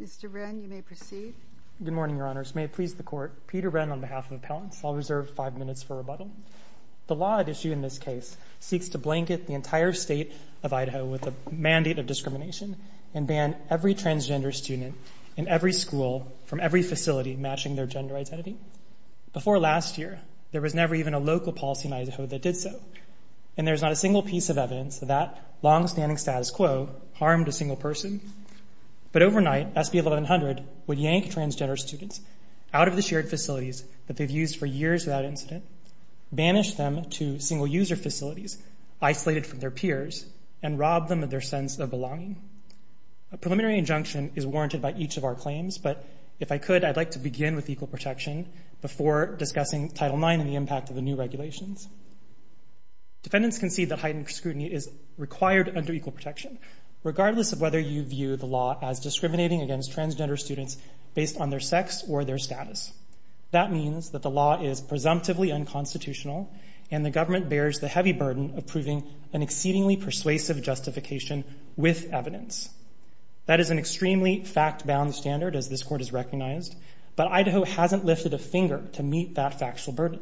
Mr. Wren, you may proceed. Good morning, Your Honors. May it please the Court, Peter Wren on behalf of Appellants. I'll reserve five minutes for rebuttal. The law at issue in this case seeks to blanket the entire state of Idaho with a mandate of discrimination and ban every transgender student in every school from every facility matching their gender identity. Before last year, there was never even a local policy in Idaho that did so. And there is not a single piece of evidence that that long-standing status quo harmed a single person. But overnight, SB 1100 would yank transgender students out of the shared facilities that they've used for years without incident, banish them to single-user facilities isolated from their peers, and rob them of their sense of belonging. A preliminary injunction is warranted by each of our claims, but if I could, I'd like to begin with equal protection before discussing Title IX and the impact of the new regulations. Defendants concede that heightened scrutiny is required under equal protection, regardless of whether you view the law as discriminating against transgender students based on their sex or their status. That means that the law is presumptively unconstitutional, and the government bears the heavy burden of proving an exceedingly persuasive justification with evidence. That is an extremely fact-bound standard, as this Court has recognized, but Idaho hasn't lifted a finger to meet that factual burden.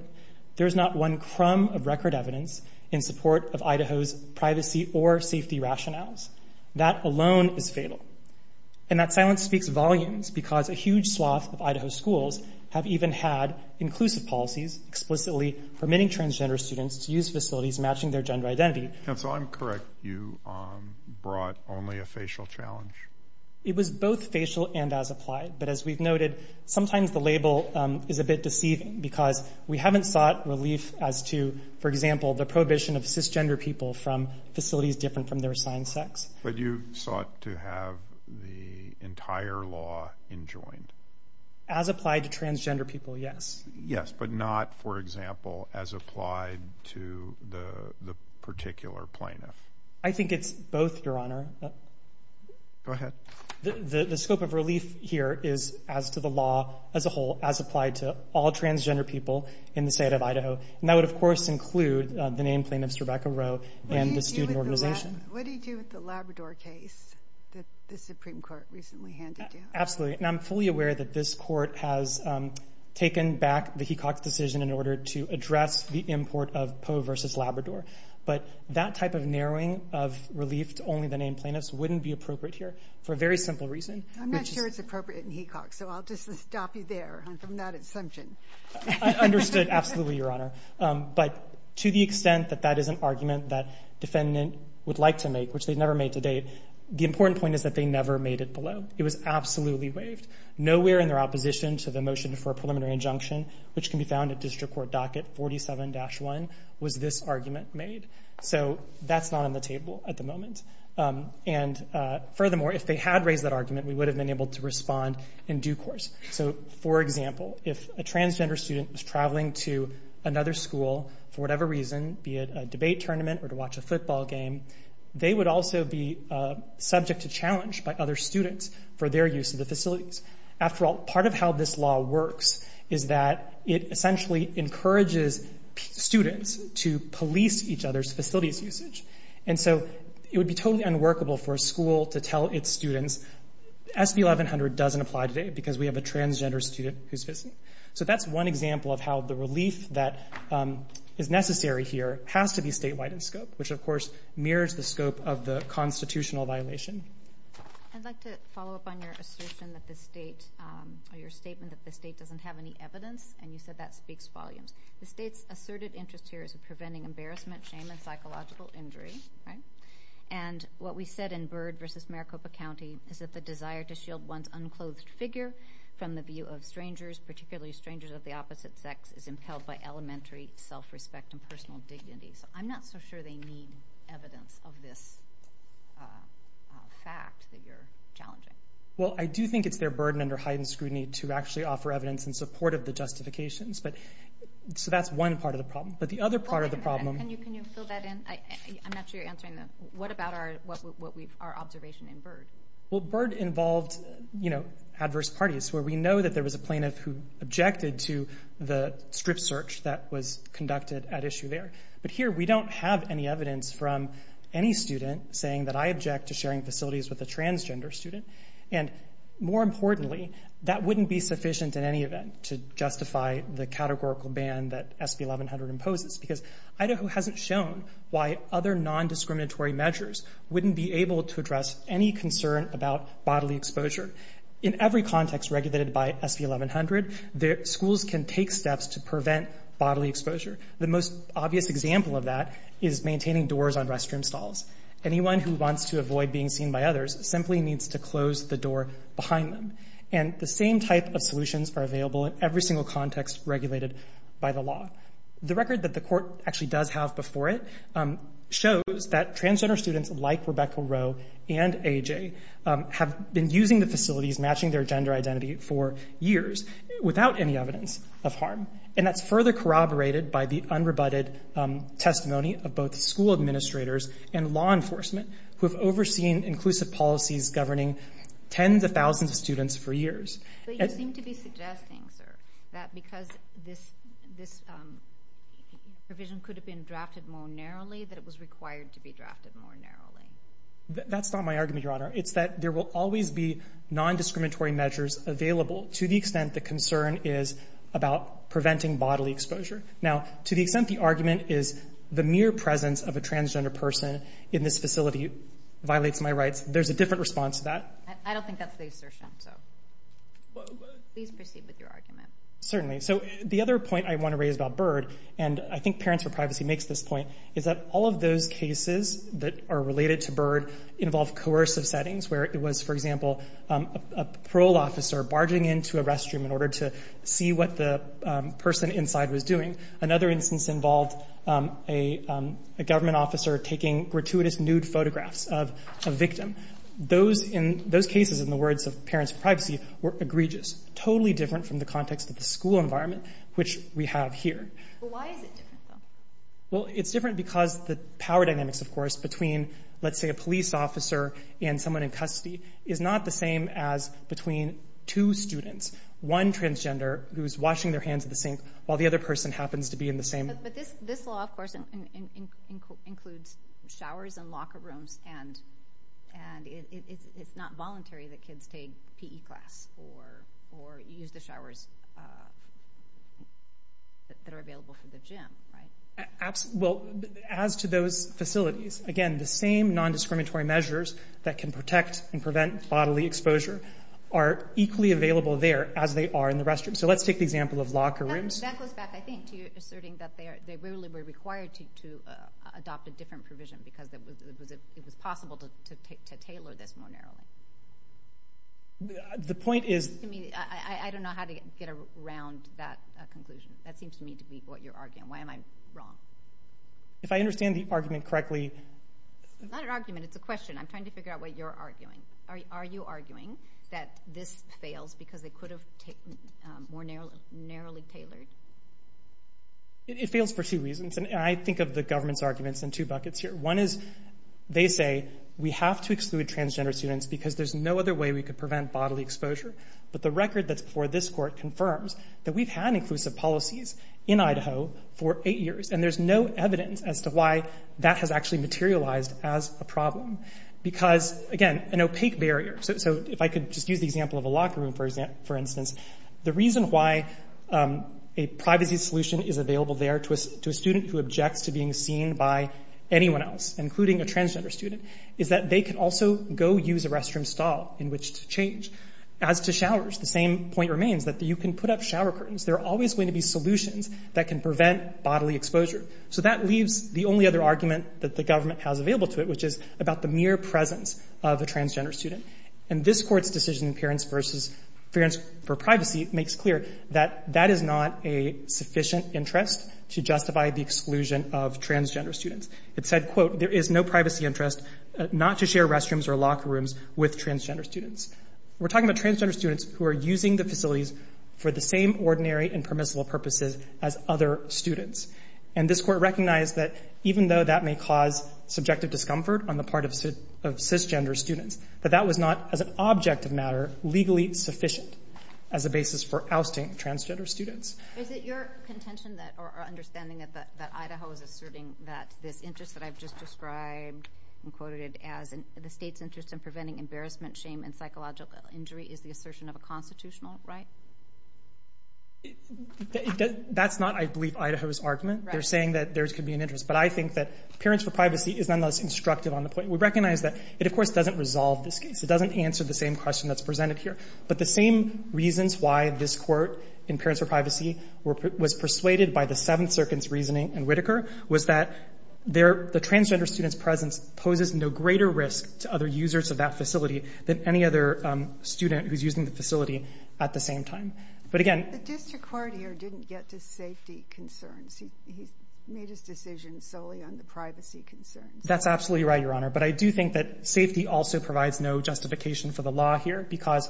There is not one crumb of record evidence in support of Idaho's privacy or safety rationales. That alone is fatal. And that silence speaks volumes because a huge swath of Idaho schools have even had inclusive policies explicitly permitting transgender students to use facilities matching their gender identity. Counsel, I'm correct. You brought only a facial challenge. It was both facial and as applied, but as we've noted, sometimes the label is a bit deceiving because we haven't sought relief as to, for example, the prohibition of cisgender people from facilities different from their assigned sex. But you sought to have the entire law enjoined. As applied to transgender people, yes. Yes, but not, for example, as applied to the particular plaintiff. I think it's both, Your Honor. Go ahead. The scope of relief here is as to the law as a whole, as applied to all transgender people in the state of Idaho. And that would, of course, include the named plaintiffs, Rebecca Rowe, and the student organization. What do you do with the Labrador case that the Supreme Court recently handed you? Absolutely, and I'm fully aware that this court has taken back the Hecox decision in order to address the import of Poe v. Labrador. But that type of narrowing of relief to only the named plaintiffs wouldn't be appropriate here for a very simple reason. I'm not sure it's appropriate in Hecox, so I'll just stop you there on that assumption. I understood absolutely, Your Honor. But to the extent that that is an argument that defendant would like to make, which they've never made to date, the important point is that they never made it below. It was absolutely waived. Nowhere in their opposition to the motion for a preliminary injunction, which can be found at District Court Docket 47-1, was this argument made. So that's not on the table at the moment. And furthermore, if they had raised that argument, we would have been able to respond in due course. So, for example, if a transgender student was traveling to another school for whatever reason, be it a debate tournament or to watch a football game, they would also be subject to challenge by other students for their use of the facilities. After all, part of how this law works is that it essentially encourages students to police each other's facilities usage. And so it would be totally unworkable for a school to tell its students, SB 1100 doesn't apply today because we have a transgender student who's visiting. So that's one example of how the relief that is necessary here has to be statewide in scope, which, of course, mirrors the scope of the constitutional violation. I'd like to follow up on your assertion that the state or your statement that the state doesn't have any evidence. And you said that speaks volumes. The state's asserted interest here is in preventing embarrassment, shame, and psychological injury. And what we said in Byrd v. Maricopa County is that the desire to shield one's unclothed figure from the view of strangers, particularly strangers of the opposite sex, is impelled by elementary self-respect and personal dignity. So I'm not so sure they need evidence of this fact that you're challenging. Well, I do think it's their burden under heightened scrutiny to actually offer evidence in support of the justifications. So that's one part of the problem. But the other part of the problem— Can you fill that in? I'm not sure you're answering that. What about our observation in Byrd? Well, Byrd involved adverse parties, where we know that there was a plaintiff who objected to the strip search that was conducted at issue there. But here we don't have any evidence from any student saying that I object to sharing facilities with a transgender student. And more importantly, that wouldn't be sufficient in any event to justify the categorical ban that SB 1100 imposes, because Idaho hasn't shown why other nondiscriminatory measures wouldn't be able to address any concern about bodily exposure. In every context regulated by SB 1100, schools can take steps to prevent bodily exposure. The most obvious example of that is maintaining doors on restroom stalls. Anyone who wants to avoid being seen by others simply needs to close the door behind them. And the same type of solutions are available in every single context regulated by the law. The record that the court actually does have before it shows that transgender students like Rebecca Rowe and A.J. have been using the facilities matching their gender identity for years without any evidence of harm. And that's further corroborated by the unrebutted testimony of both school administrators and law enforcement who have overseen inclusive policies governing tens of thousands of students for years. But you seem to be suggesting, sir, that because this provision could have been drafted more narrowly, that it was required to be drafted more narrowly. That's not my argument, Your Honor. It's that there will always be nondiscriminatory measures available to the extent the concern is about preventing bodily exposure. Now, to the extent the argument is the mere presence of a transgender person in this facility violates my rights, there's a different response to that. I don't think that's the assertion, so please proceed with your argument. Certainly. So the other point I want to raise about BIRD, and I think Parents for Privacy makes this point, is that all of those cases that are related to BIRD involve coercive settings where it was, for example, a parole officer barging into a restroom in order to see what the person inside was doing. Another instance involved a government officer taking gratuitous nude photographs of a victim. Those cases, in the words of Parents for Privacy, were egregious, totally different from the context of the school environment, which we have here. Why is it different, though? Well, it's different because the power dynamics, of course, between, let's say, a police officer and someone in custody is not the same as between two students, one transgender who's washing their hands in the sink while the other person happens to be in the same room. But this law, of course, includes showers and locker rooms, and it's not voluntary that kids take PE class or use the showers that are available for the gym, right? Well, as to those facilities, again, the same nondiscriminatory measures that can protect and prevent bodily exposure are equally available there as they are in the restroom. So let's take the example of locker rooms. That goes back, I think, to you asserting that they really were required to adopt a different provision because it was possible to tailor this more narrowly. The point is... I don't know how to get around that conclusion. That seems to me to be what you're arguing. Why am I wrong? If I understand the argument correctly... It's not an argument, it's a question. I'm trying to figure out what you're arguing. Are you arguing that this fails because they could have more narrowly tailored? It fails for two reasons, and I think of the government's arguments in two buckets here. One is they say we have to exclude transgender students because there's no other way we could prevent bodily exposure. But the record that's before this court confirms that we've had inclusive policies in Idaho for eight years, and there's no evidence as to why that has actually materialized as a problem because, again, an opaque barrier. So if I could just use the example of a locker room, for instance, the reason why a privacy solution is available there to a student who objects to being seen by anyone else, including a transgender student, is that they can also go use a restroom stall in which to change. As to showers, the same point remains, that you can put up shower curtains. There are always going to be solutions that can prevent bodily exposure. So that leaves the only other argument that the government has available to it, which is about the mere presence of a transgender student. And this Court's decision in parents versus parents for privacy makes clear that that is not a sufficient interest to justify the exclusion of transgender students. It said, quote, there is no privacy interest not to share restrooms or locker rooms with transgender students. We're talking about transgender students who are using the facilities for the same ordinary and permissible purposes as other students. And this Court recognized that even though that may cause subjective discomfort on the part of cisgender students, that that was not, as an object of matter, legally sufficient as a basis for ousting transgender students. Is it your contention or understanding that Idaho is asserting that this interest that I've just described and quoted as the state's interest in preventing embarrassment, shame, and psychological injury is the assertion of a constitutional right? That's not, I believe, Idaho's argument. They're saying that there could be an interest. But I think that parents for privacy is nonetheless instructive on the point. We recognize that it, of course, doesn't resolve this case. It doesn't answer the same question that's presented here. But the same reasons why this Court in parents for privacy was persuaded by the Seventh Circuit's reasoning in Whitaker was that the transgender student's presence poses no greater risk to other users of that facility than any other student who's using the facility at the same time. But, again... Mr. Courtier didn't get to safety concerns. He made his decision solely on the privacy concerns. That's absolutely right, Your Honor. But I do think that safety also provides no justification for the law here because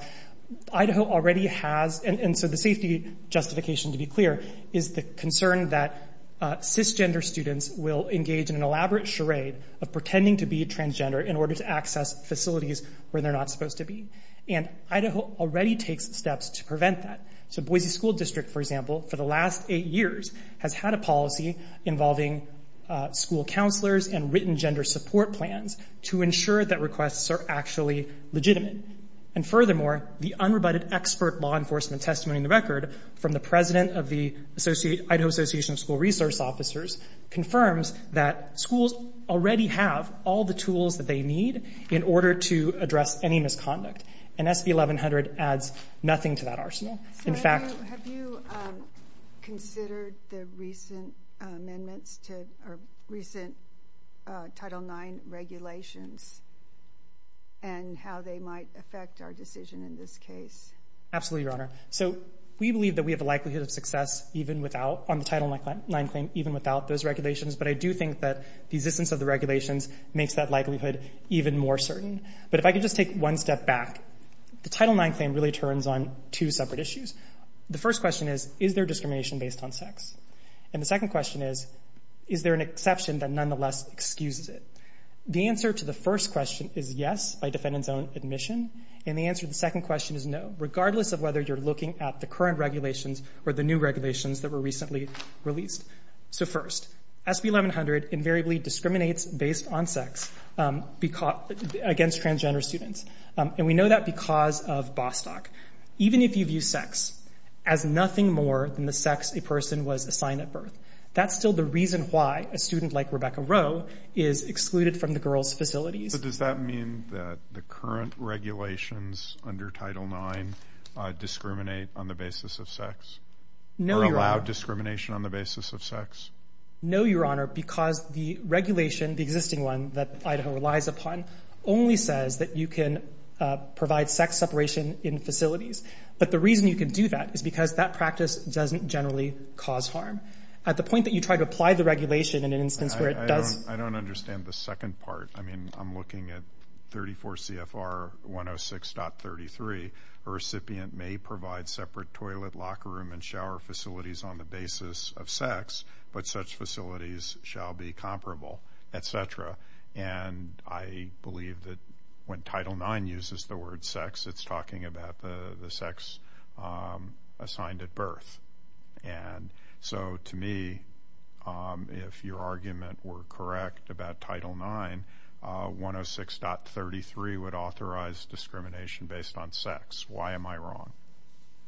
Idaho already has, and so the safety justification, to be clear, is the concern that cisgender students will engage in an elaborate charade of pretending to be transgender in order to access facilities where they're not supposed to be. And Idaho already takes steps to prevent that. So Boise School District, for example, for the last eight years has had a policy involving school counselors and written gender support plans to ensure that requests are actually legitimate. And furthermore, the unrebutted expert law enforcement testimony in the record from the president of the Idaho Association of School Resource Officers confirms that schools already have all the tools that they need in order to address any misconduct. And SB 1100 adds nothing to that arsenal. So have you considered the recent amendments to or recent Title IX regulations and how they might affect our decision in this case? Absolutely, Your Honor. So we believe that we have a likelihood of success even without on the Title IX claim, even without those regulations. But I do think that the existence of the regulations makes that likelihood even more certain. But if I could just take one step back, the Title IX claim really turns on two separate issues. The first question is, is there discrimination based on sex? And the second question is, is there an exception that nonetheless excuses it? The answer to the first question is yes, by defendant's own admission. And the answer to the second question is no, regardless of whether you're looking at the current regulations or the new regulations that were recently released. So first, SB 1100 invariably discriminates based on sex against transgender students. And we know that because of Bostock. Even if you view sex as nothing more than the sex a person was assigned at birth, that's still the reason why a student like Rebecca Rowe is excluded from the girls' facilities. So does that mean that the current regulations under Title IX discriminate on the basis of sex? No, Your Honor. Or allow discrimination on the basis of sex? No, Your Honor, because the regulation, the existing one, that Idaho relies upon only says that you can provide sex separation in facilities. But the reason you can do that is because that practice doesn't generally cause harm. At the point that you try to apply the regulation in an instance where it does. I don't understand the second part. I mean, I'm looking at 34 CFR 106.33. A recipient may provide separate toilet, locker room, and shower facilities on the basis of sex, but such facilities shall be comparable, et cetera. And I believe that when Title IX uses the word sex, it's talking about the sex assigned at birth. And so to me, if your argument were correct about Title IX, 106.33 would authorize discrimination based on sex. Why am I wrong?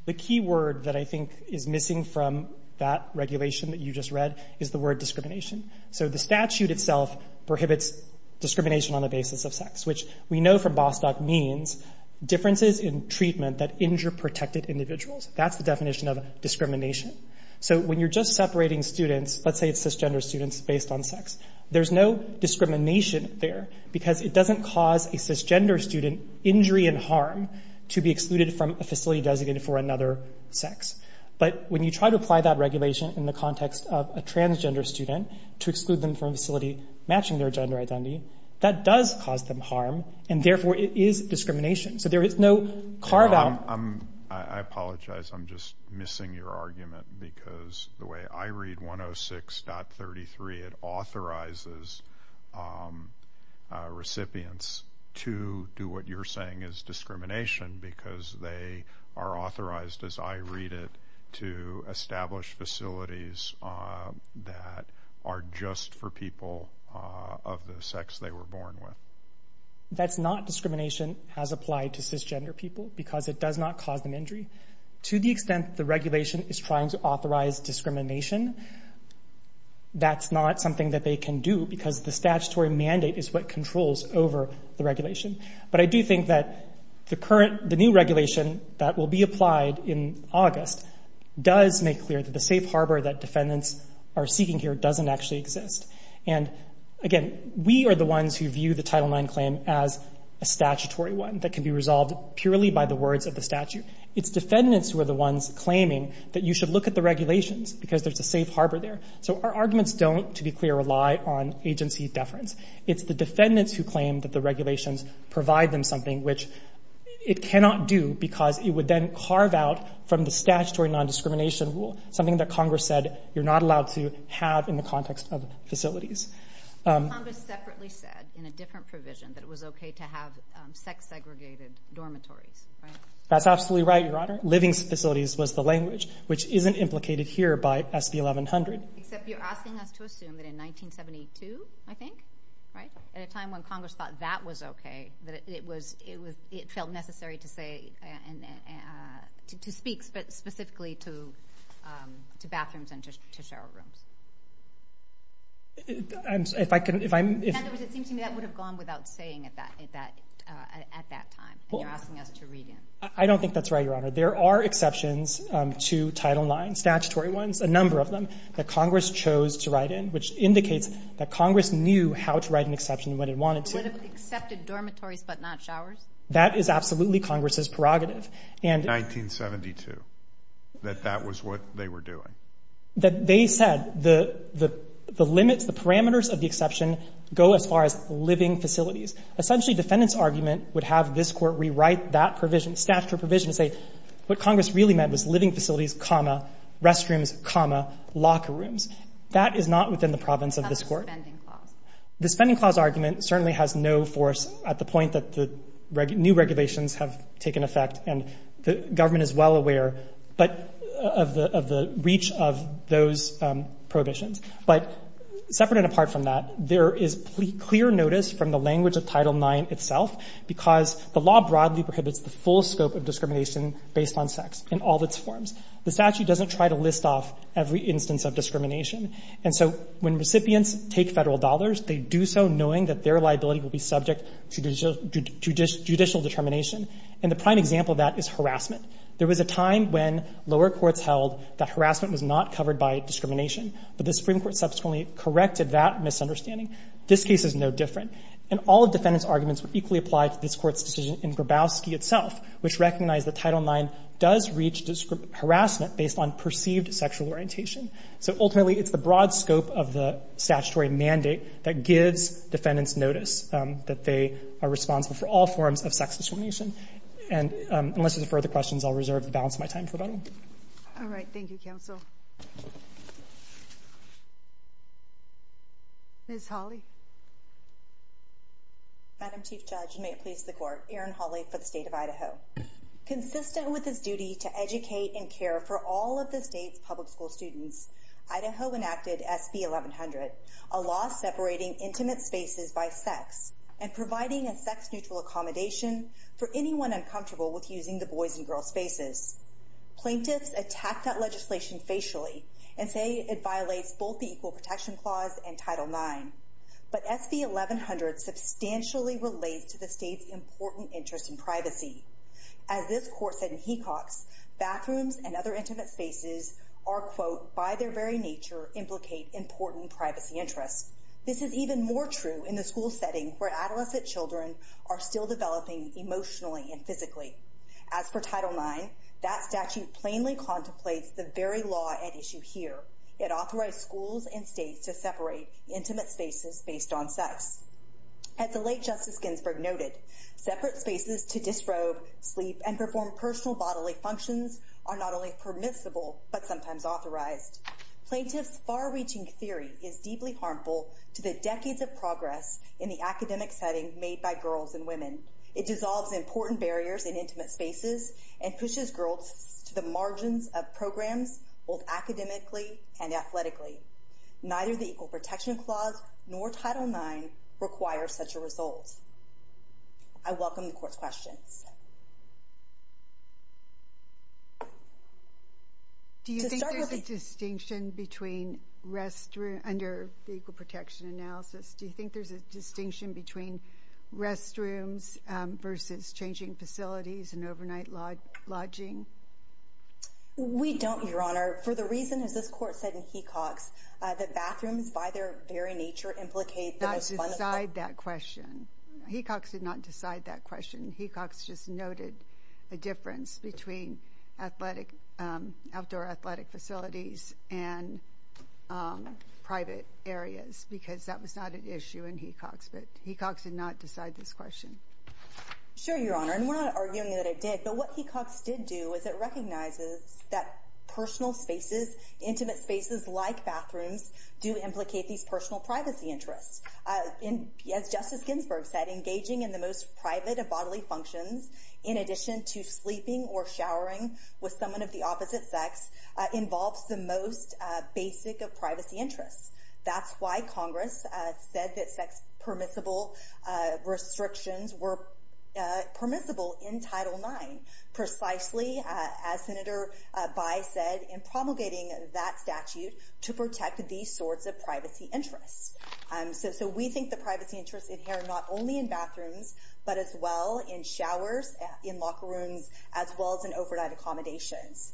The key word that I think is missing from that regulation that you just read is the word discrimination. So the statute itself prohibits discrimination on the basis of sex, which we know from Bostock means differences in treatment that injure protected individuals. That's the definition of discrimination. So when you're just separating students, let's say it's cisgender students based on sex, there's no discrimination there because it doesn't cause a cisgender student injury and harm to be excluded from a facility designated for another sex. But when you try to apply that regulation in the context of a transgender student to exclude them from a facility matching their gender identity, that does cause them harm, and therefore it is discrimination. So there is no carve-out. I apologize. I'm just missing your argument because the way I read 106.33, it authorizes recipients to do what you're saying is discrimination because they are authorized, as I read it, to establish facilities that are just for people of the sex they were born with. That's not discrimination as applied to cisgender people because it does not cause them injury. To the extent that the regulation is trying to authorize discrimination, that's not something that they can do because the statutory mandate is what controls over the regulation. But I do think that the new regulation that will be applied in August does make clear that the safe harbor that defendants are seeking here doesn't actually exist. And, again, we are the ones who view the Title IX claim as a statutory one that can be resolved purely by the words of the statute. It's defendants who are the ones claiming that you should look at the regulations because there's a safe harbor there. So our arguments don't, to be clear, rely on agency deference. It's the defendants who claim that the regulations provide them something which it cannot do because it would then carve out from the statutory nondiscrimination rule something that Congress said you're not allowed to have in the context of facilities. Congress separately said in a different provision that it was okay to have sex-segregated dormitories, right? That's absolutely right, Your Honor. Living facilities was the language, which isn't implicated here by SB 1100. Except you're asking us to assume that in 1972, I think, right, at a time when Congress thought that was okay, that it felt necessary to speak specifically to bathrooms and to shower rooms. In other words, it seems to me that would have gone without saying at that time, and you're asking us to read in. I don't think that's right, Your Honor. There are exceptions to Title IX, statutory ones, a number of them, that Congress chose to write in, which indicates that Congress knew how to write an exception when it wanted to. It would have accepted dormitories but not showers? That is absolutely Congress's prerogative. In 1972, that that was what they were doing? They said the limits, the parameters of the exception go as far as living facilities. Essentially, defendant's argument would have this Court rewrite that provision, statutory provision, and say what Congress really meant was living facilities, comma, restrooms, comma, locker rooms. That is not within the province of this Court. It's not a spending clause. The spending clause argument certainly has no force at the point that the new regulations have taken effect, and the government is well aware of the reach of those prohibitions. But separate and apart from that, there is clear notice from the language of Title IX itself because the law broadly prohibits the full scope of discrimination based on sex in all its forms. The statute doesn't try to list off every instance of discrimination. And so when recipients take Federal dollars, they do so knowing that their liability will be subject to judicial determination. And the prime example of that is harassment. There was a time when lower courts held that harassment was not covered by discrimination. But the Supreme Court subsequently corrected that misunderstanding. This case is no different. And all of defendant's arguments would equally apply to this Court's decision in Grabowski itself, which recognized that Title IX does reach harassment based on perceived sexual orientation. So ultimately, it's the broad scope of the statutory mandate that gives defendants notice that they are responsible for all forms of sex discrimination. And unless there's further questions, I'll reserve the balance of my time for the meeting. Thank you. All right. Thank you, Counsel. Ms. Hawley. Madam Chief Judge, and may it please the Court, Erin Hawley for the State of Idaho. Consistent with its duty to educate and care for all of the state's public school students, Idaho enacted SB 1100, a law separating intimate spaces by sex and providing a sex-neutral accommodation for anyone uncomfortable with using the boys' and girls' spaces. Plaintiffs attack that legislation facially and say it violates both the Equal Protection Clause and Title IX. But SB 1100 substantially relates to the state's important interest in privacy. As this Court said in Hecox, bathrooms and other intimate spaces are, quote, by their very nature, implicate important privacy interests. This is even more true in the school setting where adolescent children are still As for Title IX, that statute plainly contemplates the very law at issue here. It authorized schools and states to separate intimate spaces based on sex. As the late Justice Ginsburg noted, separate spaces to disrobe, sleep, and perform personal bodily functions are not only permissible but sometimes authorized. Plaintiffs' far-reaching theory is deeply harmful to the decades of progress in the academic setting made by girls and women. It dissolves important barriers in intimate spaces and pushes girls to the margins of programs, both academically and athletically. Neither the Equal Protection Clause nor Title IX requires such a result. I welcome the Court's questions. Do you think there's a distinction between under the Equal Protection Analysis, do you think there's a distinction between restrooms versus changing facilities and overnight lodging? We don't, Your Honor. For the reason, as this Court said in Hecox, that bathrooms, by their very nature, implicate the most fundamental Hecox did not decide that question. Hecox just noted a difference between outdoor athletic facilities and private areas because that was not an issue in Hecox, but Hecox did not decide this question. Sure, Your Honor, and we're not arguing that it did, but what Hecox did do was it recognizes that personal spaces, intimate spaces like bathrooms, do implicate these personal privacy interests. As Justice Ginsburg said, engaging in the most private of bodily functions, in addition to sleeping or showering with someone of the opposite sex, involves the most basic of privacy interests. That's why Congress said that sex permissible restrictions were permissible in Title IX, precisely as Senator Bye said, in promulgating that statute to protect these sorts of privacy interests. So we think the privacy interests inhere not only in bathrooms, but as well in showers, in locker rooms, as well as in overnight accommodations.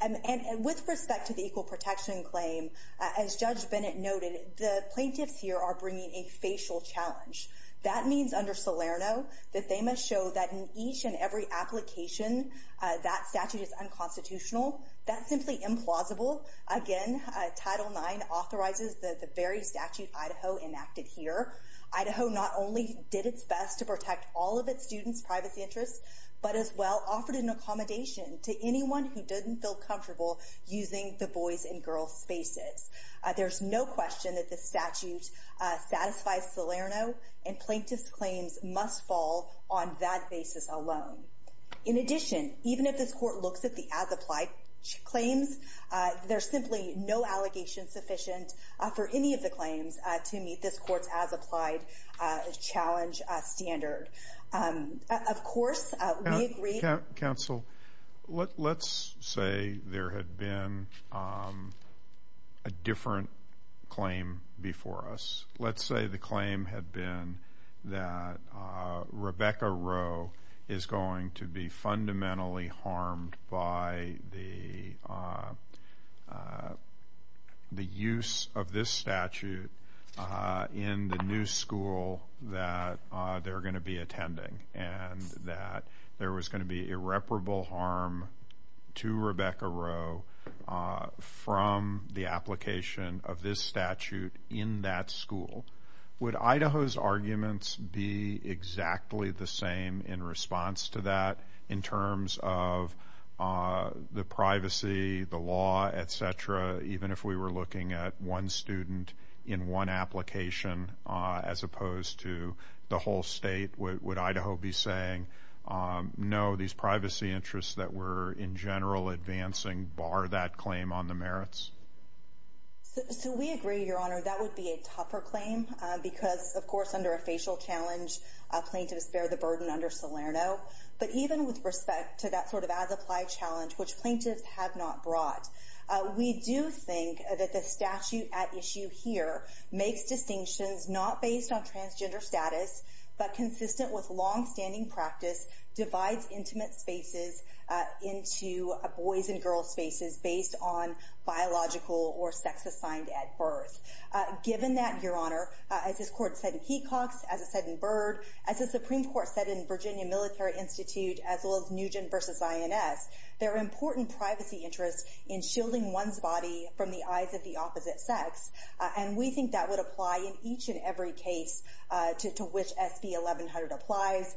And with respect to the equal protection claim, as Judge Bennett noted, the plaintiffs here are bringing a facial challenge. That means under Salerno that they must show that in each and every application that statute is unconstitutional. That's simply implausible. Again, Title IX authorizes the very statute Idaho enacted here. Idaho not only did its best to protect all of its students' privacy interests, but as well offered an accommodation to anyone who didn't feel comfortable using the boys' and girls' spaces. There's no question that this statute satisfies Salerno, and plaintiffs' claims must fall on that basis alone. In addition, even if this court looks at the as-applied claims, there's simply no allegation sufficient for any of the claims to meet this court's as-applied challenge standard. Of course, we agree. Counsel, let's say there had been a different claim before us. Let's say the claim had been that Rebecca Rowe is going to be fundamentally harmed by the use of this statute in the new school, that there are going to be children attending, and that there was going to be irreparable harm to Rebecca Rowe from the application of this statute in that school. Would Idaho's arguments be exactly the same in response to that in terms of the privacy, the law, et cetera, even if we were looking at one student in one school? Would Idaho be saying, no, these privacy interests that we're in general advancing bar that claim on the merits? So we agree, Your Honor. That would be a tougher claim because, of course, under a facial challenge, plaintiffs bear the burden under Salerno. But even with respect to that sort of as-applied challenge, which plaintiffs have not brought, we do think that the statute at issue here makes distinctions not based on transgender status, but consistent with longstanding practice, divides intimate spaces into boys' and girls' spaces based on biological or sex assigned at birth. Given that, Your Honor, as this Court said in Hecox, as it said in Byrd, as the Supreme Court said in Virginia Military Institute, as well as Nugent v. INS, there are important privacy interests in shielding one's body from the eyes of the opposite sex. And we think that would apply in each and every case to which SB 1100 applies.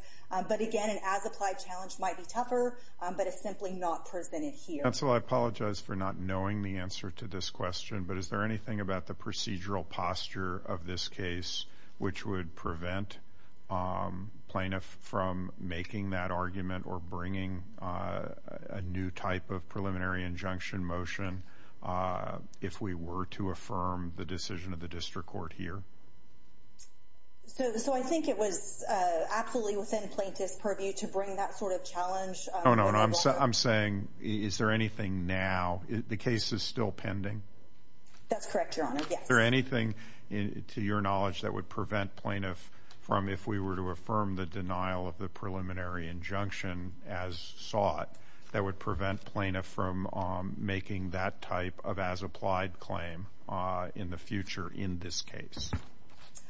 But, again, an as-applied challenge might be tougher, but it's simply not presented here. Counsel, I apologize for not knowing the answer to this question, but is there anything about the procedural posture of this case which would prevent plaintiffs from making that argument or bringing a new type of preliminary injunction motion if we were to affirm the decision of the district court here? So I think it was absolutely within plaintiff's purview to bring that sort of challenge. No, no, no. I'm saying, is there anything now? The case is still pending. That's correct, Your Honor, yes. Is there anything, to your knowledge, that would prevent plaintiff from, if we were to affirm the denial of the preliminary injunction as sought, that would prevent that type of as-applied claim in the future in this case?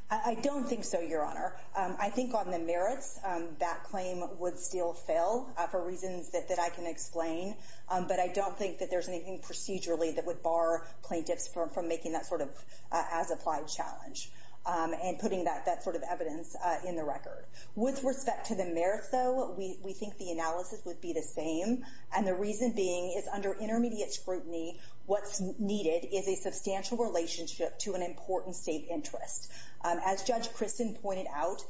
I don't think so, Your Honor. I think on the merits, that claim would still fail for reasons that I can explain, but I don't think that there's anything procedurally that would bar plaintiffs from making that sort of as-applied challenge and putting that sort of evidence in the record. With respect to the merits, though, we think the analysis would be the same, and the reason being is, under intermediate scrutiny, what's needed is a substantial relationship to an important state interest. As Judge Kristen pointed out,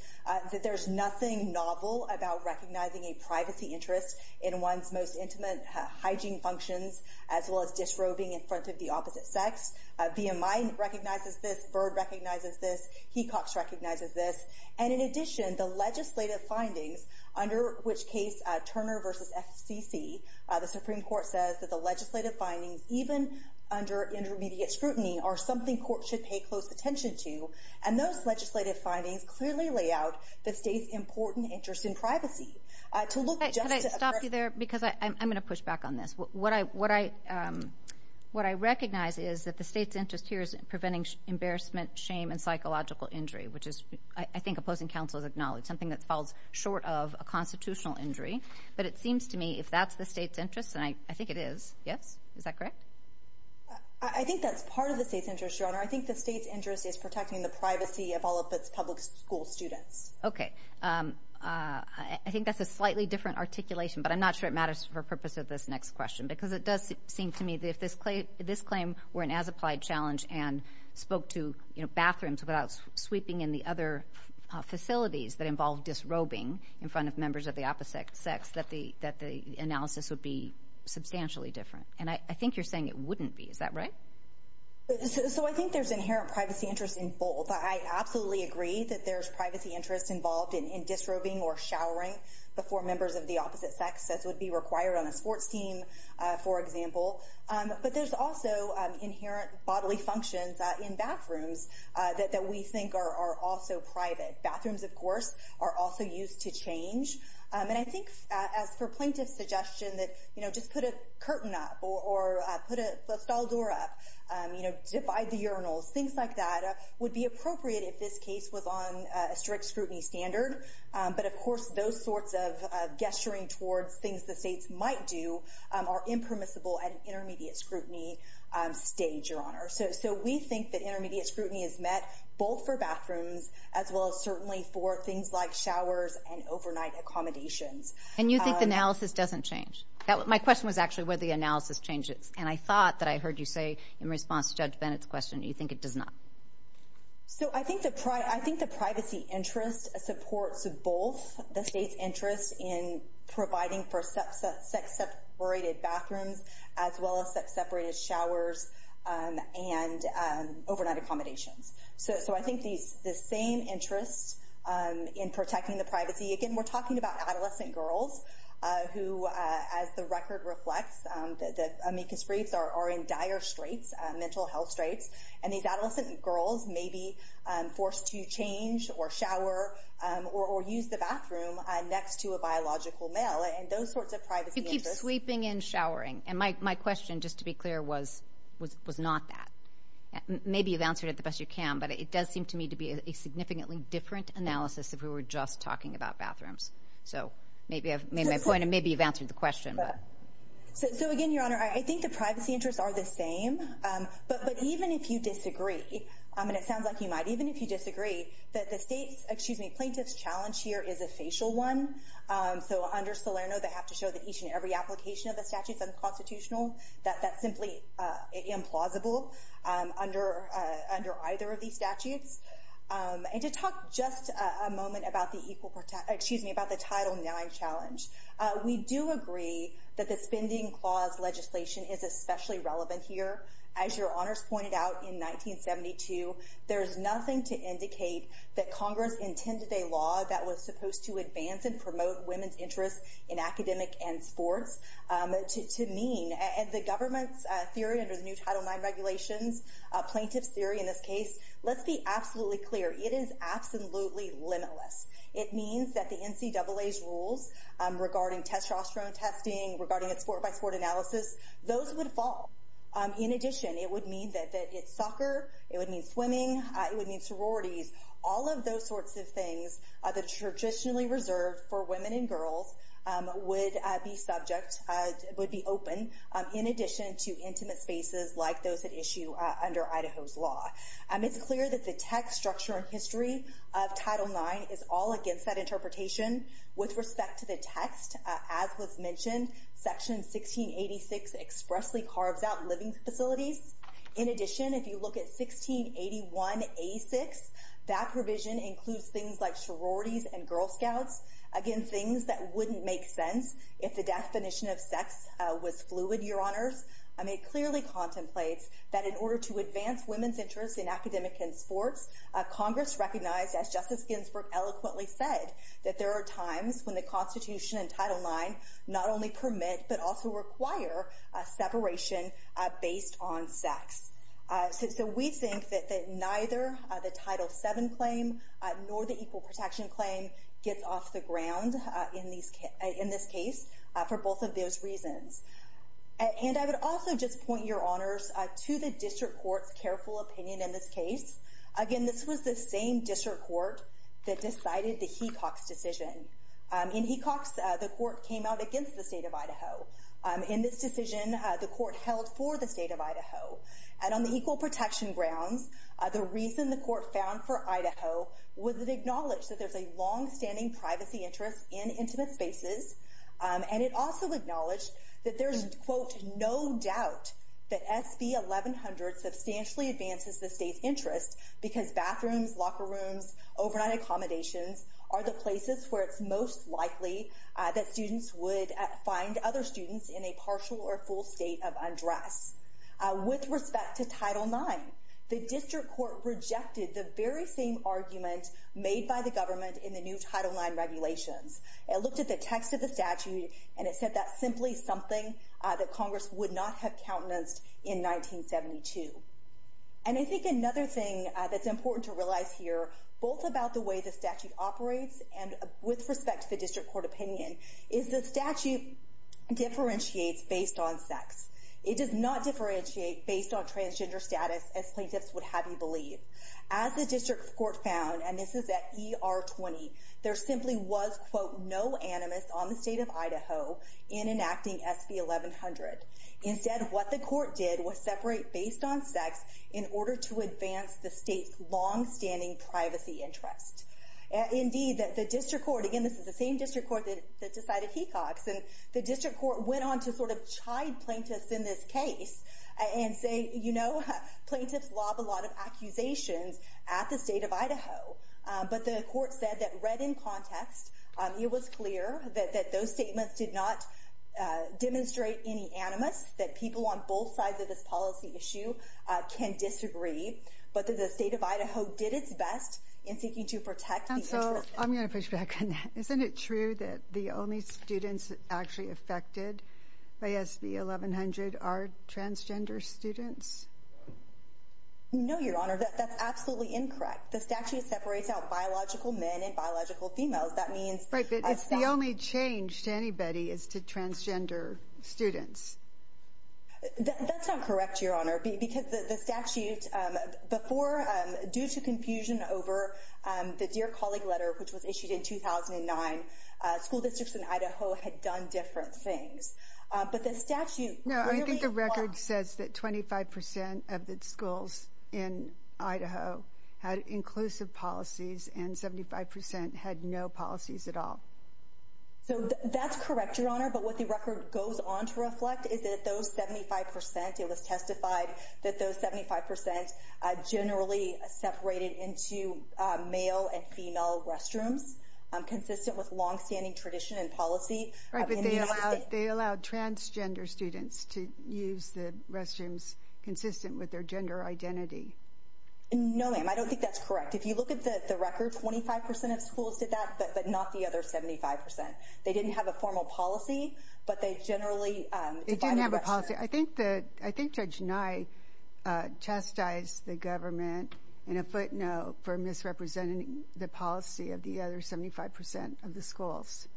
that there's nothing novel about recognizing a privacy interest in one's most intimate hygiene functions, as well as disrobing in front of the opposite sex. VMI recognizes this. Byrd recognizes this. Hecox recognizes this. And in addition, the legislative findings, under which case Turner versus FCC the Supreme Court says that the legislative findings, even under intermediate scrutiny, are something courts should pay close attention to. And those legislative findings clearly lay out the state's important interest in privacy. To look just to address — Could I stop you there? Because I'm going to push back on this. What I recognize is that the state's interest here is in preventing embarrassment, shame, and psychological injury, which is, I think, opposing counsel has acknowledged, something that falls short of a constitutional injury. But it seems to me, if that's the state's interest — and I think it is. Yes? Is that correct? I think that's part of the state's interest, Your Honor. I think the state's interest is protecting the privacy of all of its public school students. Okay. I think that's a slightly different articulation, but I'm not sure it matters for the purpose of this next question, because it does seem to me that if this claim were an as-applied challenge and spoke to bathrooms without sweeping in the other facilities that involve disrobing in front of members of the opposite sex, that the analysis would be substantially different. And I think you're saying it wouldn't be. Is that right? So I think there's inherent privacy interest in both. I absolutely agree that there's privacy interest involved in disrobing or showering before members of the opposite sex, as would be required on a sports team, for example. But there's also inherent bodily functions in bathrooms that we think are also private. Bathrooms, of course, are also used to change. And I think as for plaintiff's suggestion that, you know, just put a curtain up or put a stall door up, you know, divide the urinals, things like that, would be appropriate if this case was on a strict scrutiny standard. But, of course, those sorts of gesturing towards things the states might do are impermissible at an intermediate scrutiny stage, Your Honor. So we think that intermediate scrutiny is met both for bathrooms, as well as certainly for things like showers and overnight accommodations. And you think the analysis doesn't change? My question was actually whether the analysis changes. And I thought that I heard you say in response to Judge Bennett's question, you think it does not. So I think the privacy interest supports both the state's interest in providing for sex-separated bathrooms, as well as sex-separated showers and overnight accommodations. So I think the same interest in protecting the privacy. Again, we're talking about adolescent girls who, as the record reflects, the amicus briefs are in dire straits, mental health straits. And these adolescent girls may be forced to change or shower or use the bathroom next to a biological male. And those sorts of privacy interests. You keep sweeping and showering. And my question, just to be clear, was not that. Maybe you've answered it the best you can, but it does seem to me to be a significantly different analysis if we were just talking about bathrooms. So maybe I've made my point, and maybe you've answered the question. So, again, Your Honor, I think the privacy interests are the same. But even if you disagree, and it sounds like you might, even if you disagree, that the plaintiff's challenge here is a facial one. So under Salerno, they have to show that each and every application of the statute is unconstitutional. That's simply implausible under either of these statutes. And to talk just a moment about the Title IX challenge, we do agree that the spending clause legislation is especially relevant here. As Your Honors pointed out in 1972, there's nothing to indicate that Congress intended a law that was supposed to advance and promote women's interests in academic and sports to mean. And the government's theory under the new Title IX regulations, plaintiff's theory in this case, let's be absolutely clear, it is absolutely limitless. It means that the NCAA's rules regarding testosterone testing, regarding its sport-by-sport analysis, those would fall. In addition, it would mean that soccer, it would mean swimming, it would mean sororities, all of those sorts of things that are traditionally reserved for women and girls would be subject, would be open in addition to intimate spaces like those at issue under Idaho's law. It's clear that the text structure and history of Title IX is all against that interpretation. With respect to the text, as was mentioned, Section 1686 expressly carves out living facilities. In addition, if you look at 1681A6, that provision includes things like sororities and Girl Scouts, again, things that wouldn't make sense if the definition of sex was fluid, Your Honors. It clearly contemplates that in order to advance women's interests in academic and sports, Congress recognized, as Justice Ginsburg eloquently said, that there are times when the Constitution and Title IX not only permit but also require separation based on sex. So we think that neither the Title VII claim nor the Equal Protection Claim gets off the ground in this case for both of those reasons. And I would also just point, Your Honors, to the district court's careful opinion in this case. Again, this was the same district court that decided the Hecox decision. In Hecox, the court came out against the state of Idaho. In this decision, the court held for the state of Idaho. And on the Equal Protection grounds, the reason the court found for Idaho was it acknowledged that there's a longstanding privacy interest in intimate spaces, and it also acknowledged that there's, quote, no doubt that SB 1100 substantially advances the state's interest because bathrooms, locker rooms, overnight accommodations are the places where it's most likely that students would find other students in a partial or full state of undress. With respect to Title IX, the district court rejected the very same argument made by the government in the new Title IX regulations. It looked at the text of the statute, and it said that's simply something that Congress would not have countenanced in 1972. And I think another thing that's important to realize here, both about the way the statute operates and with respect to the district court opinion, is the statute differentiates based on sex. It does not differentiate based on transgender status, as plaintiffs would have you believe. As the district court found, and this is at ER 20, there simply was, quote, no animus on the state of Idaho in enacting SB 1100. Instead, what the court did was separate based on sex in order to advance the state's longstanding privacy interest. Indeed, the district court, again, this is the same district court that decided Hecox, and the district court went on to sort of chide plaintiffs in this case and say, you know, plaintiffs lob a lot of accusations at the state of Idaho. But the court said that read in context, it was clear that those statements did not demonstrate any animus, that people on both sides of this policy issue can disagree, but that the state of Idaho did its best in seeking to protect the interest. Counsel, I'm going to push back on that. Isn't it true that the only students actually affected by SB 1100 are transgender students? No, Your Honor, that's absolutely incorrect. The statute separates out biological men and biological females. Right, but it's the only change to anybody is to transgender students. That's not correct, Your Honor, because the statute before, due to confusion over the Dear Colleague letter, which was issued in 2009, school districts in Idaho had done different things. But the statute. No, I think the record says that 25 percent of the schools in Idaho had inclusive policies and 75 percent had no policies at all. So that's correct, Your Honor. But what the record goes on to reflect is that those 75 percent, it was testified that those 75 percent generally separated into male and female restrooms, consistent with longstanding tradition and policy. Right, but they allowed transgender students to use the restrooms consistent with their gender identity. No, ma'am, I don't think that's correct. If you look at the record, 25 percent of schools did that, but not the other 75 percent. They didn't have a formal policy, but they generally divided the restrooms. They didn't have a policy. I think Judge Nye chastised the government in a footnote for misrepresenting the policy of the other 75 percent of the schools.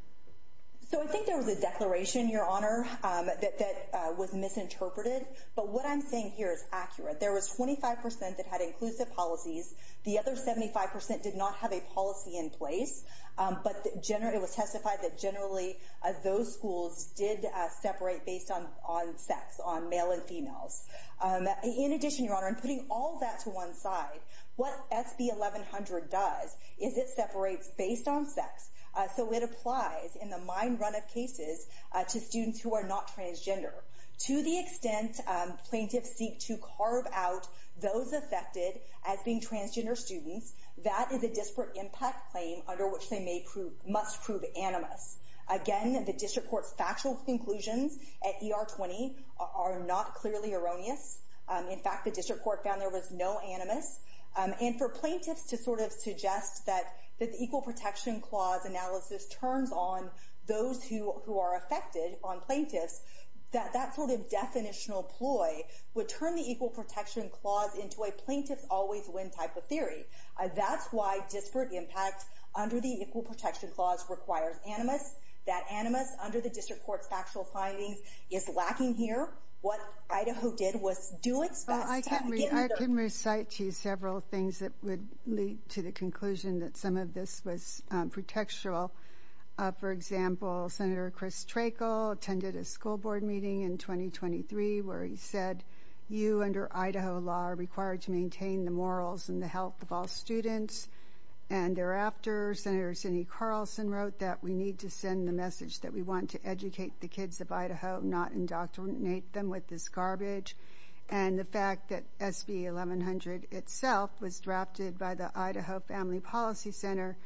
So I think there was a declaration, Your Honor, that was misinterpreted. But what I'm saying here is accurate. There was 25 percent that had inclusive policies. The other 75 percent did not have a policy in place, but it was testified that generally those schools did separate based on sex, on male and females. In addition, Your Honor, in putting all that to one side, what SB 1100 does is it separates based on sex. So it applies in the mine run of cases to students who are not transgender. To the extent plaintiffs seek to carve out those affected as being transgender students, that is a disparate impact claim under which they must prove animus. Again, the district court's factual conclusions at ER 20 are not clearly erroneous. In fact, the district court found there was no animus. And for plaintiffs to sort of suggest that the Equal Protection Clause analysis turns on those who are affected, on plaintiffs, that that sort of definitional ploy would turn the Equal Protection Clause into a plaintiffs always win type of theory. That's why disparate impact under the Equal Protection Clause requires animus. That animus under the district court's factual findings is lacking here. What Idaho did was do its best. Well, I can recite to you several things that would lead to the conclusion that some of this was pretextual. For example, Senator Chris Trachel attended a school board meeting in 2023 where he said, you under Idaho law are required to maintain the morals and the health of all students. And thereafter, Senator Cindy Carlson wrote that we need to send the message that we want to educate the kids of Idaho, not indoctrinate them with this garbage. And the fact that SB 1100 itself was drafted by the Idaho Family Policy Center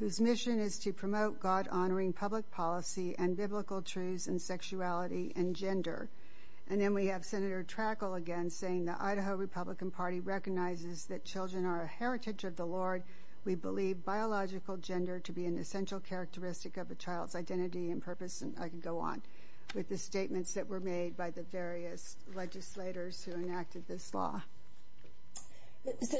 whose mission is to promote God-honoring public policy and biblical truths and sexuality and gender. And then we have Senator Trachel again saying the Idaho Republican Party recognizes that children are a heritage of the Lord. We believe biological gender to be an essential characteristic of a child's identity and purpose. And I can go on with the statements that were made by the various legislators who enacted this law.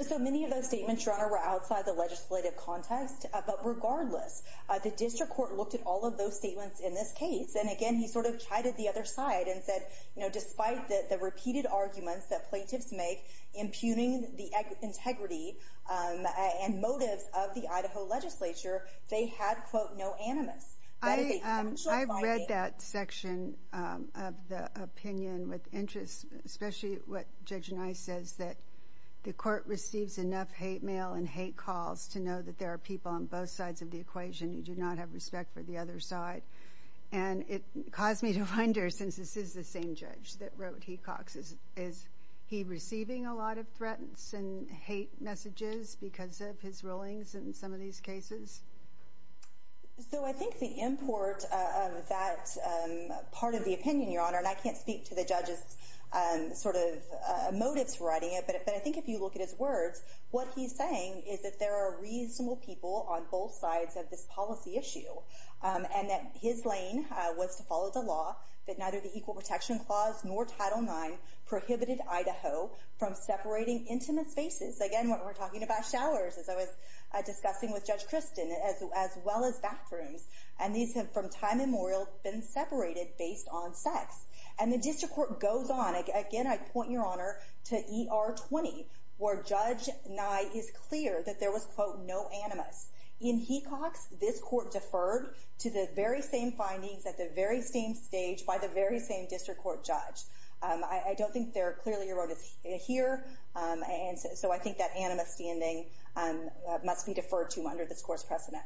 So many of those statements, Your Honor, were outside the legislative context. But regardless, the district court looked at all of those statements in this case. And again, he sort of chided the other side and said, you know, despite the repeated arguments that plaintiffs make impugning the integrity and motives of the Idaho legislature, they had, quote, no animus. I've read that section of the opinion with interest, especially what Judge Nye says, that the court receives enough hate mail and hate calls to know that there are people on both sides of the equation who do not have respect for the other side. And it caused me to wonder, since this is the same judge that wrote Hecox, is he receiving a lot of threats and hate messages because of his rulings in some of these cases? So I think the import of that part of the opinion, Your Honor, and I can't speak to the judge's sort of motives for writing it, but I think if you look at his words, what he's saying is that there are reasonable people on both sides of this policy issue, and that his lane was to follow the law that neither the Equal Protection Clause nor Title IX prohibited Idaho from separating intimate spaces. Again, we're talking about showers, as I was discussing with Judge Christin, as well as bathrooms. And these have, from time immemorial, been separated based on sex. And the district court goes on. Again, I point, Your Honor, to ER 20, where Judge Nye is clear that there was, quote, no animus. In Hecox, this court deferred to the very same findings at the very same stage by the very same district court judge. I don't think they're clearly eroded here, and so I think that animus standing must be deferred to under this court's precedent.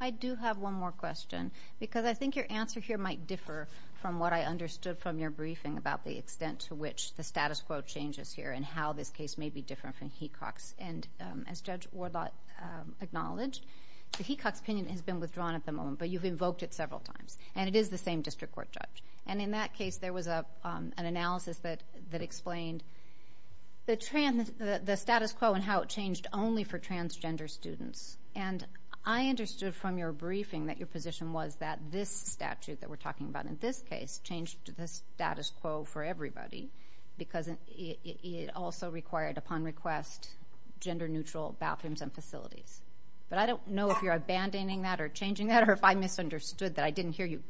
I do have one more question because I think your answer here might differ from what I understood from your briefing about the extent to which the status quo changes here and how this case may be different from Hecox. And as Judge Wardlot acknowledged, the Hecox opinion has been withdrawn at the moment, but you've invoked it several times, and it is the same district court judge. And in that case, there was an analysis that explained the status quo and how it changed only for transgender students. And I understood from your briefing that your position was that this statute that we're talking about in this case changed the status quo for everybody because it also required, upon request, gender-neutral bathrooms and facilities. But I don't know if you're abandoning that or changing that or if I misunderstood that I didn't hear you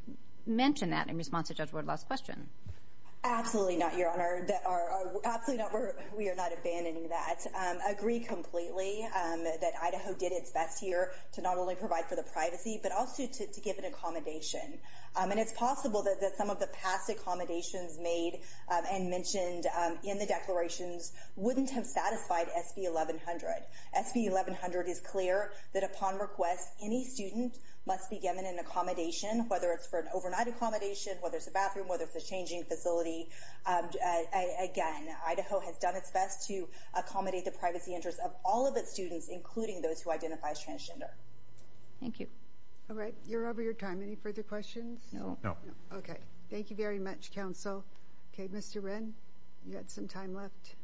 mention that in response to Judge Wardlot's question. Absolutely not, Your Honor. We are not abandoning that. I agree completely that Idaho did its best here to not only provide for the privacy but also to give an accommodation. And it's possible that some of the past accommodations made and mentioned in the declarations wouldn't have satisfied SB 1100. SB 1100 is clear that, upon request, any student must be given an accommodation, whether it's for an overnight accommodation, whether it's a bathroom, whether it's a changing facility. Again, Idaho has done its best to accommodate the privacy interests of all of its students, including those who identify as transgender. Thank you. All right, you're over your time. Any further questions? No. Okay. Thank you very much, Counsel. Okay, Mr. Wren, you've got some time left.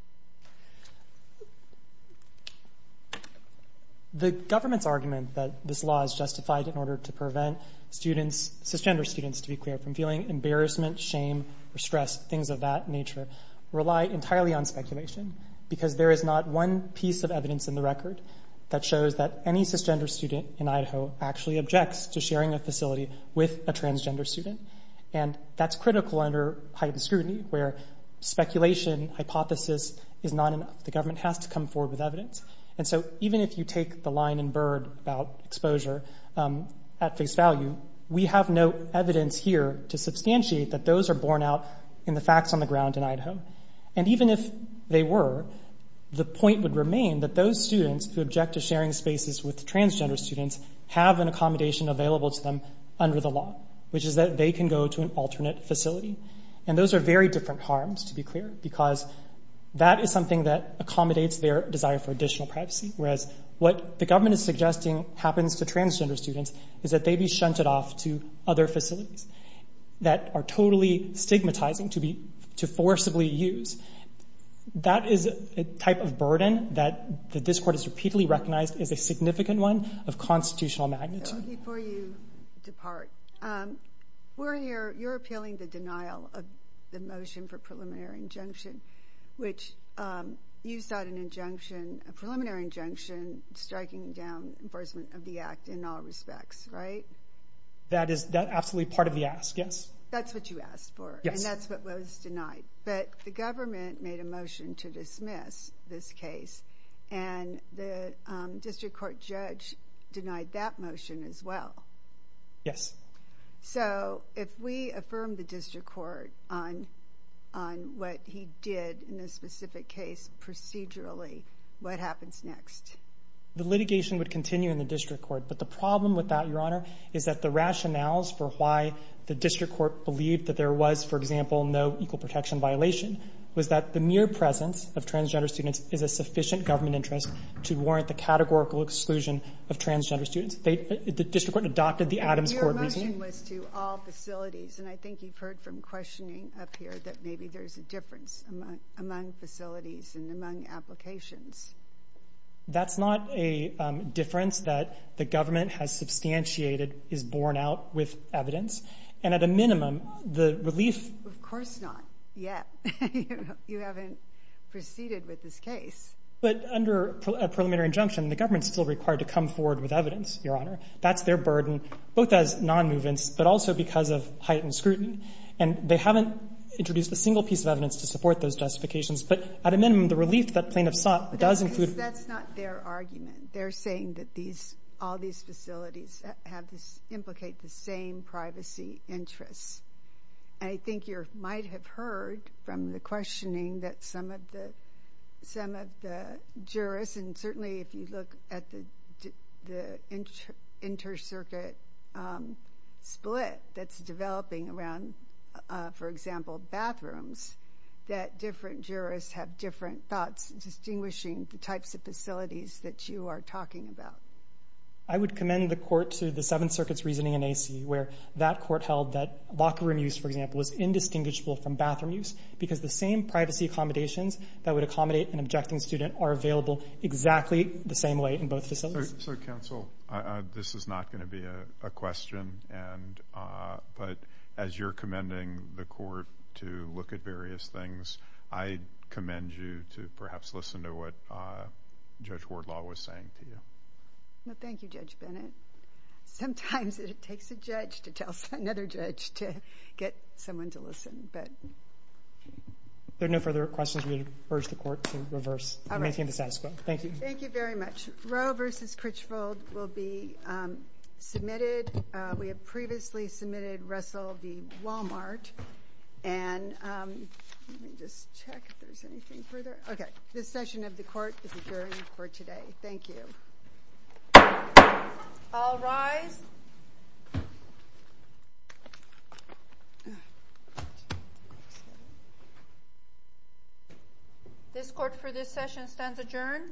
The government's argument that this law is justified in order to prevent students, cisgender students, to be clear, from feeling embarrassment, shame, or stress, things of that nature, rely entirely on speculation because there is not one piece of evidence in the record that shows that any cisgender student in Idaho actually objects to sharing a facility with a transgender student. And that's critical under heightened scrutiny where speculation, hypothesis, is not enough. The government has to come forward with evidence. And so even if you take the line in Byrd about exposure at face value, we have no evidence here to substantiate that those are borne out in the facts on the ground in Idaho. And even if they were, the point would remain that those students who object to sharing spaces with transgender students have an accommodation available to them under the law, which is that they can go to an alternate facility. And those are very different harms, to be clear, because that is something that accommodates their desire for additional privacy, whereas what the government is suggesting happens to transgender students is that they be shunted off to other facilities that are totally stigmatizing to forcibly use. That is a type of burden that this Court has repeatedly recognized as a significant one of constitutional magnitude. Before you depart, you're appealing the denial of the motion for preliminary injunction, which you sought a preliminary injunction striking down enforcement of the Act in all respects, right? That is absolutely part of the ask, yes. That's what you asked for, and that's what was denied. But the government made a motion to dismiss this case, and the district court judge denied that motion as well. Yes. So if we affirm the district court on what he did in this specific case procedurally, what happens next? The litigation would continue in the district court, but the problem with that, Your Honor, is that the rationales for why the district court believed that there was, for example, no equal protection violation was that the mere presence of transgender students is a sufficient government interest to warrant the categorical exclusion of transgender students. The district court adopted the Adams Court reasoning. Your motion was to all facilities, and I think you've heard from questioning up here that maybe there's a difference among facilities and among applications. That's not a difference that the government has substantiated is borne out with evidence. And at a minimum, the relief— You haven't proceeded with this case. But under a preliminary injunction, the government is still required to come forward with evidence, Your Honor. That's their burden, both as nonmovements but also because of heightened scrutiny. And they haven't introduced a single piece of evidence to support those justifications. But at a minimum, the relief that plaintiffs sought does include— That's not their argument. They're saying that all these facilities implicate the same privacy interests. And I think you might have heard from the questioning that some of the jurors, and certainly if you look at the inter-circuit split that's developing around, for example, bathrooms, that different jurors have different thoughts distinguishing the types of facilities that you are talking about. I would commend the court to the Seventh Circuit's reasoning in AC where that court held that locker room use, for example, was indistinguishable from bathroom use because the same privacy accommodations that would accommodate an objecting student are available exactly the same way in both facilities. So, counsel, this is not going to be a question, but as you're commending the court to look at various things, I commend you to perhaps listen to what Judge Wardlaw was saying to you. Thank you, Judge Bennett. Sometimes it takes a judge to tell another judge to get someone to listen. If there are no further questions, we urge the court to reverse and maintain the status quo. Thank you. Thank you very much. Roe v. Critchfield will be submitted. We have previously submitted Russell v. Walmart. And let me just check if there's anything further. Okay, this session of the court is adjourned for today. Thank you. All rise. This court for this session stands adjourned.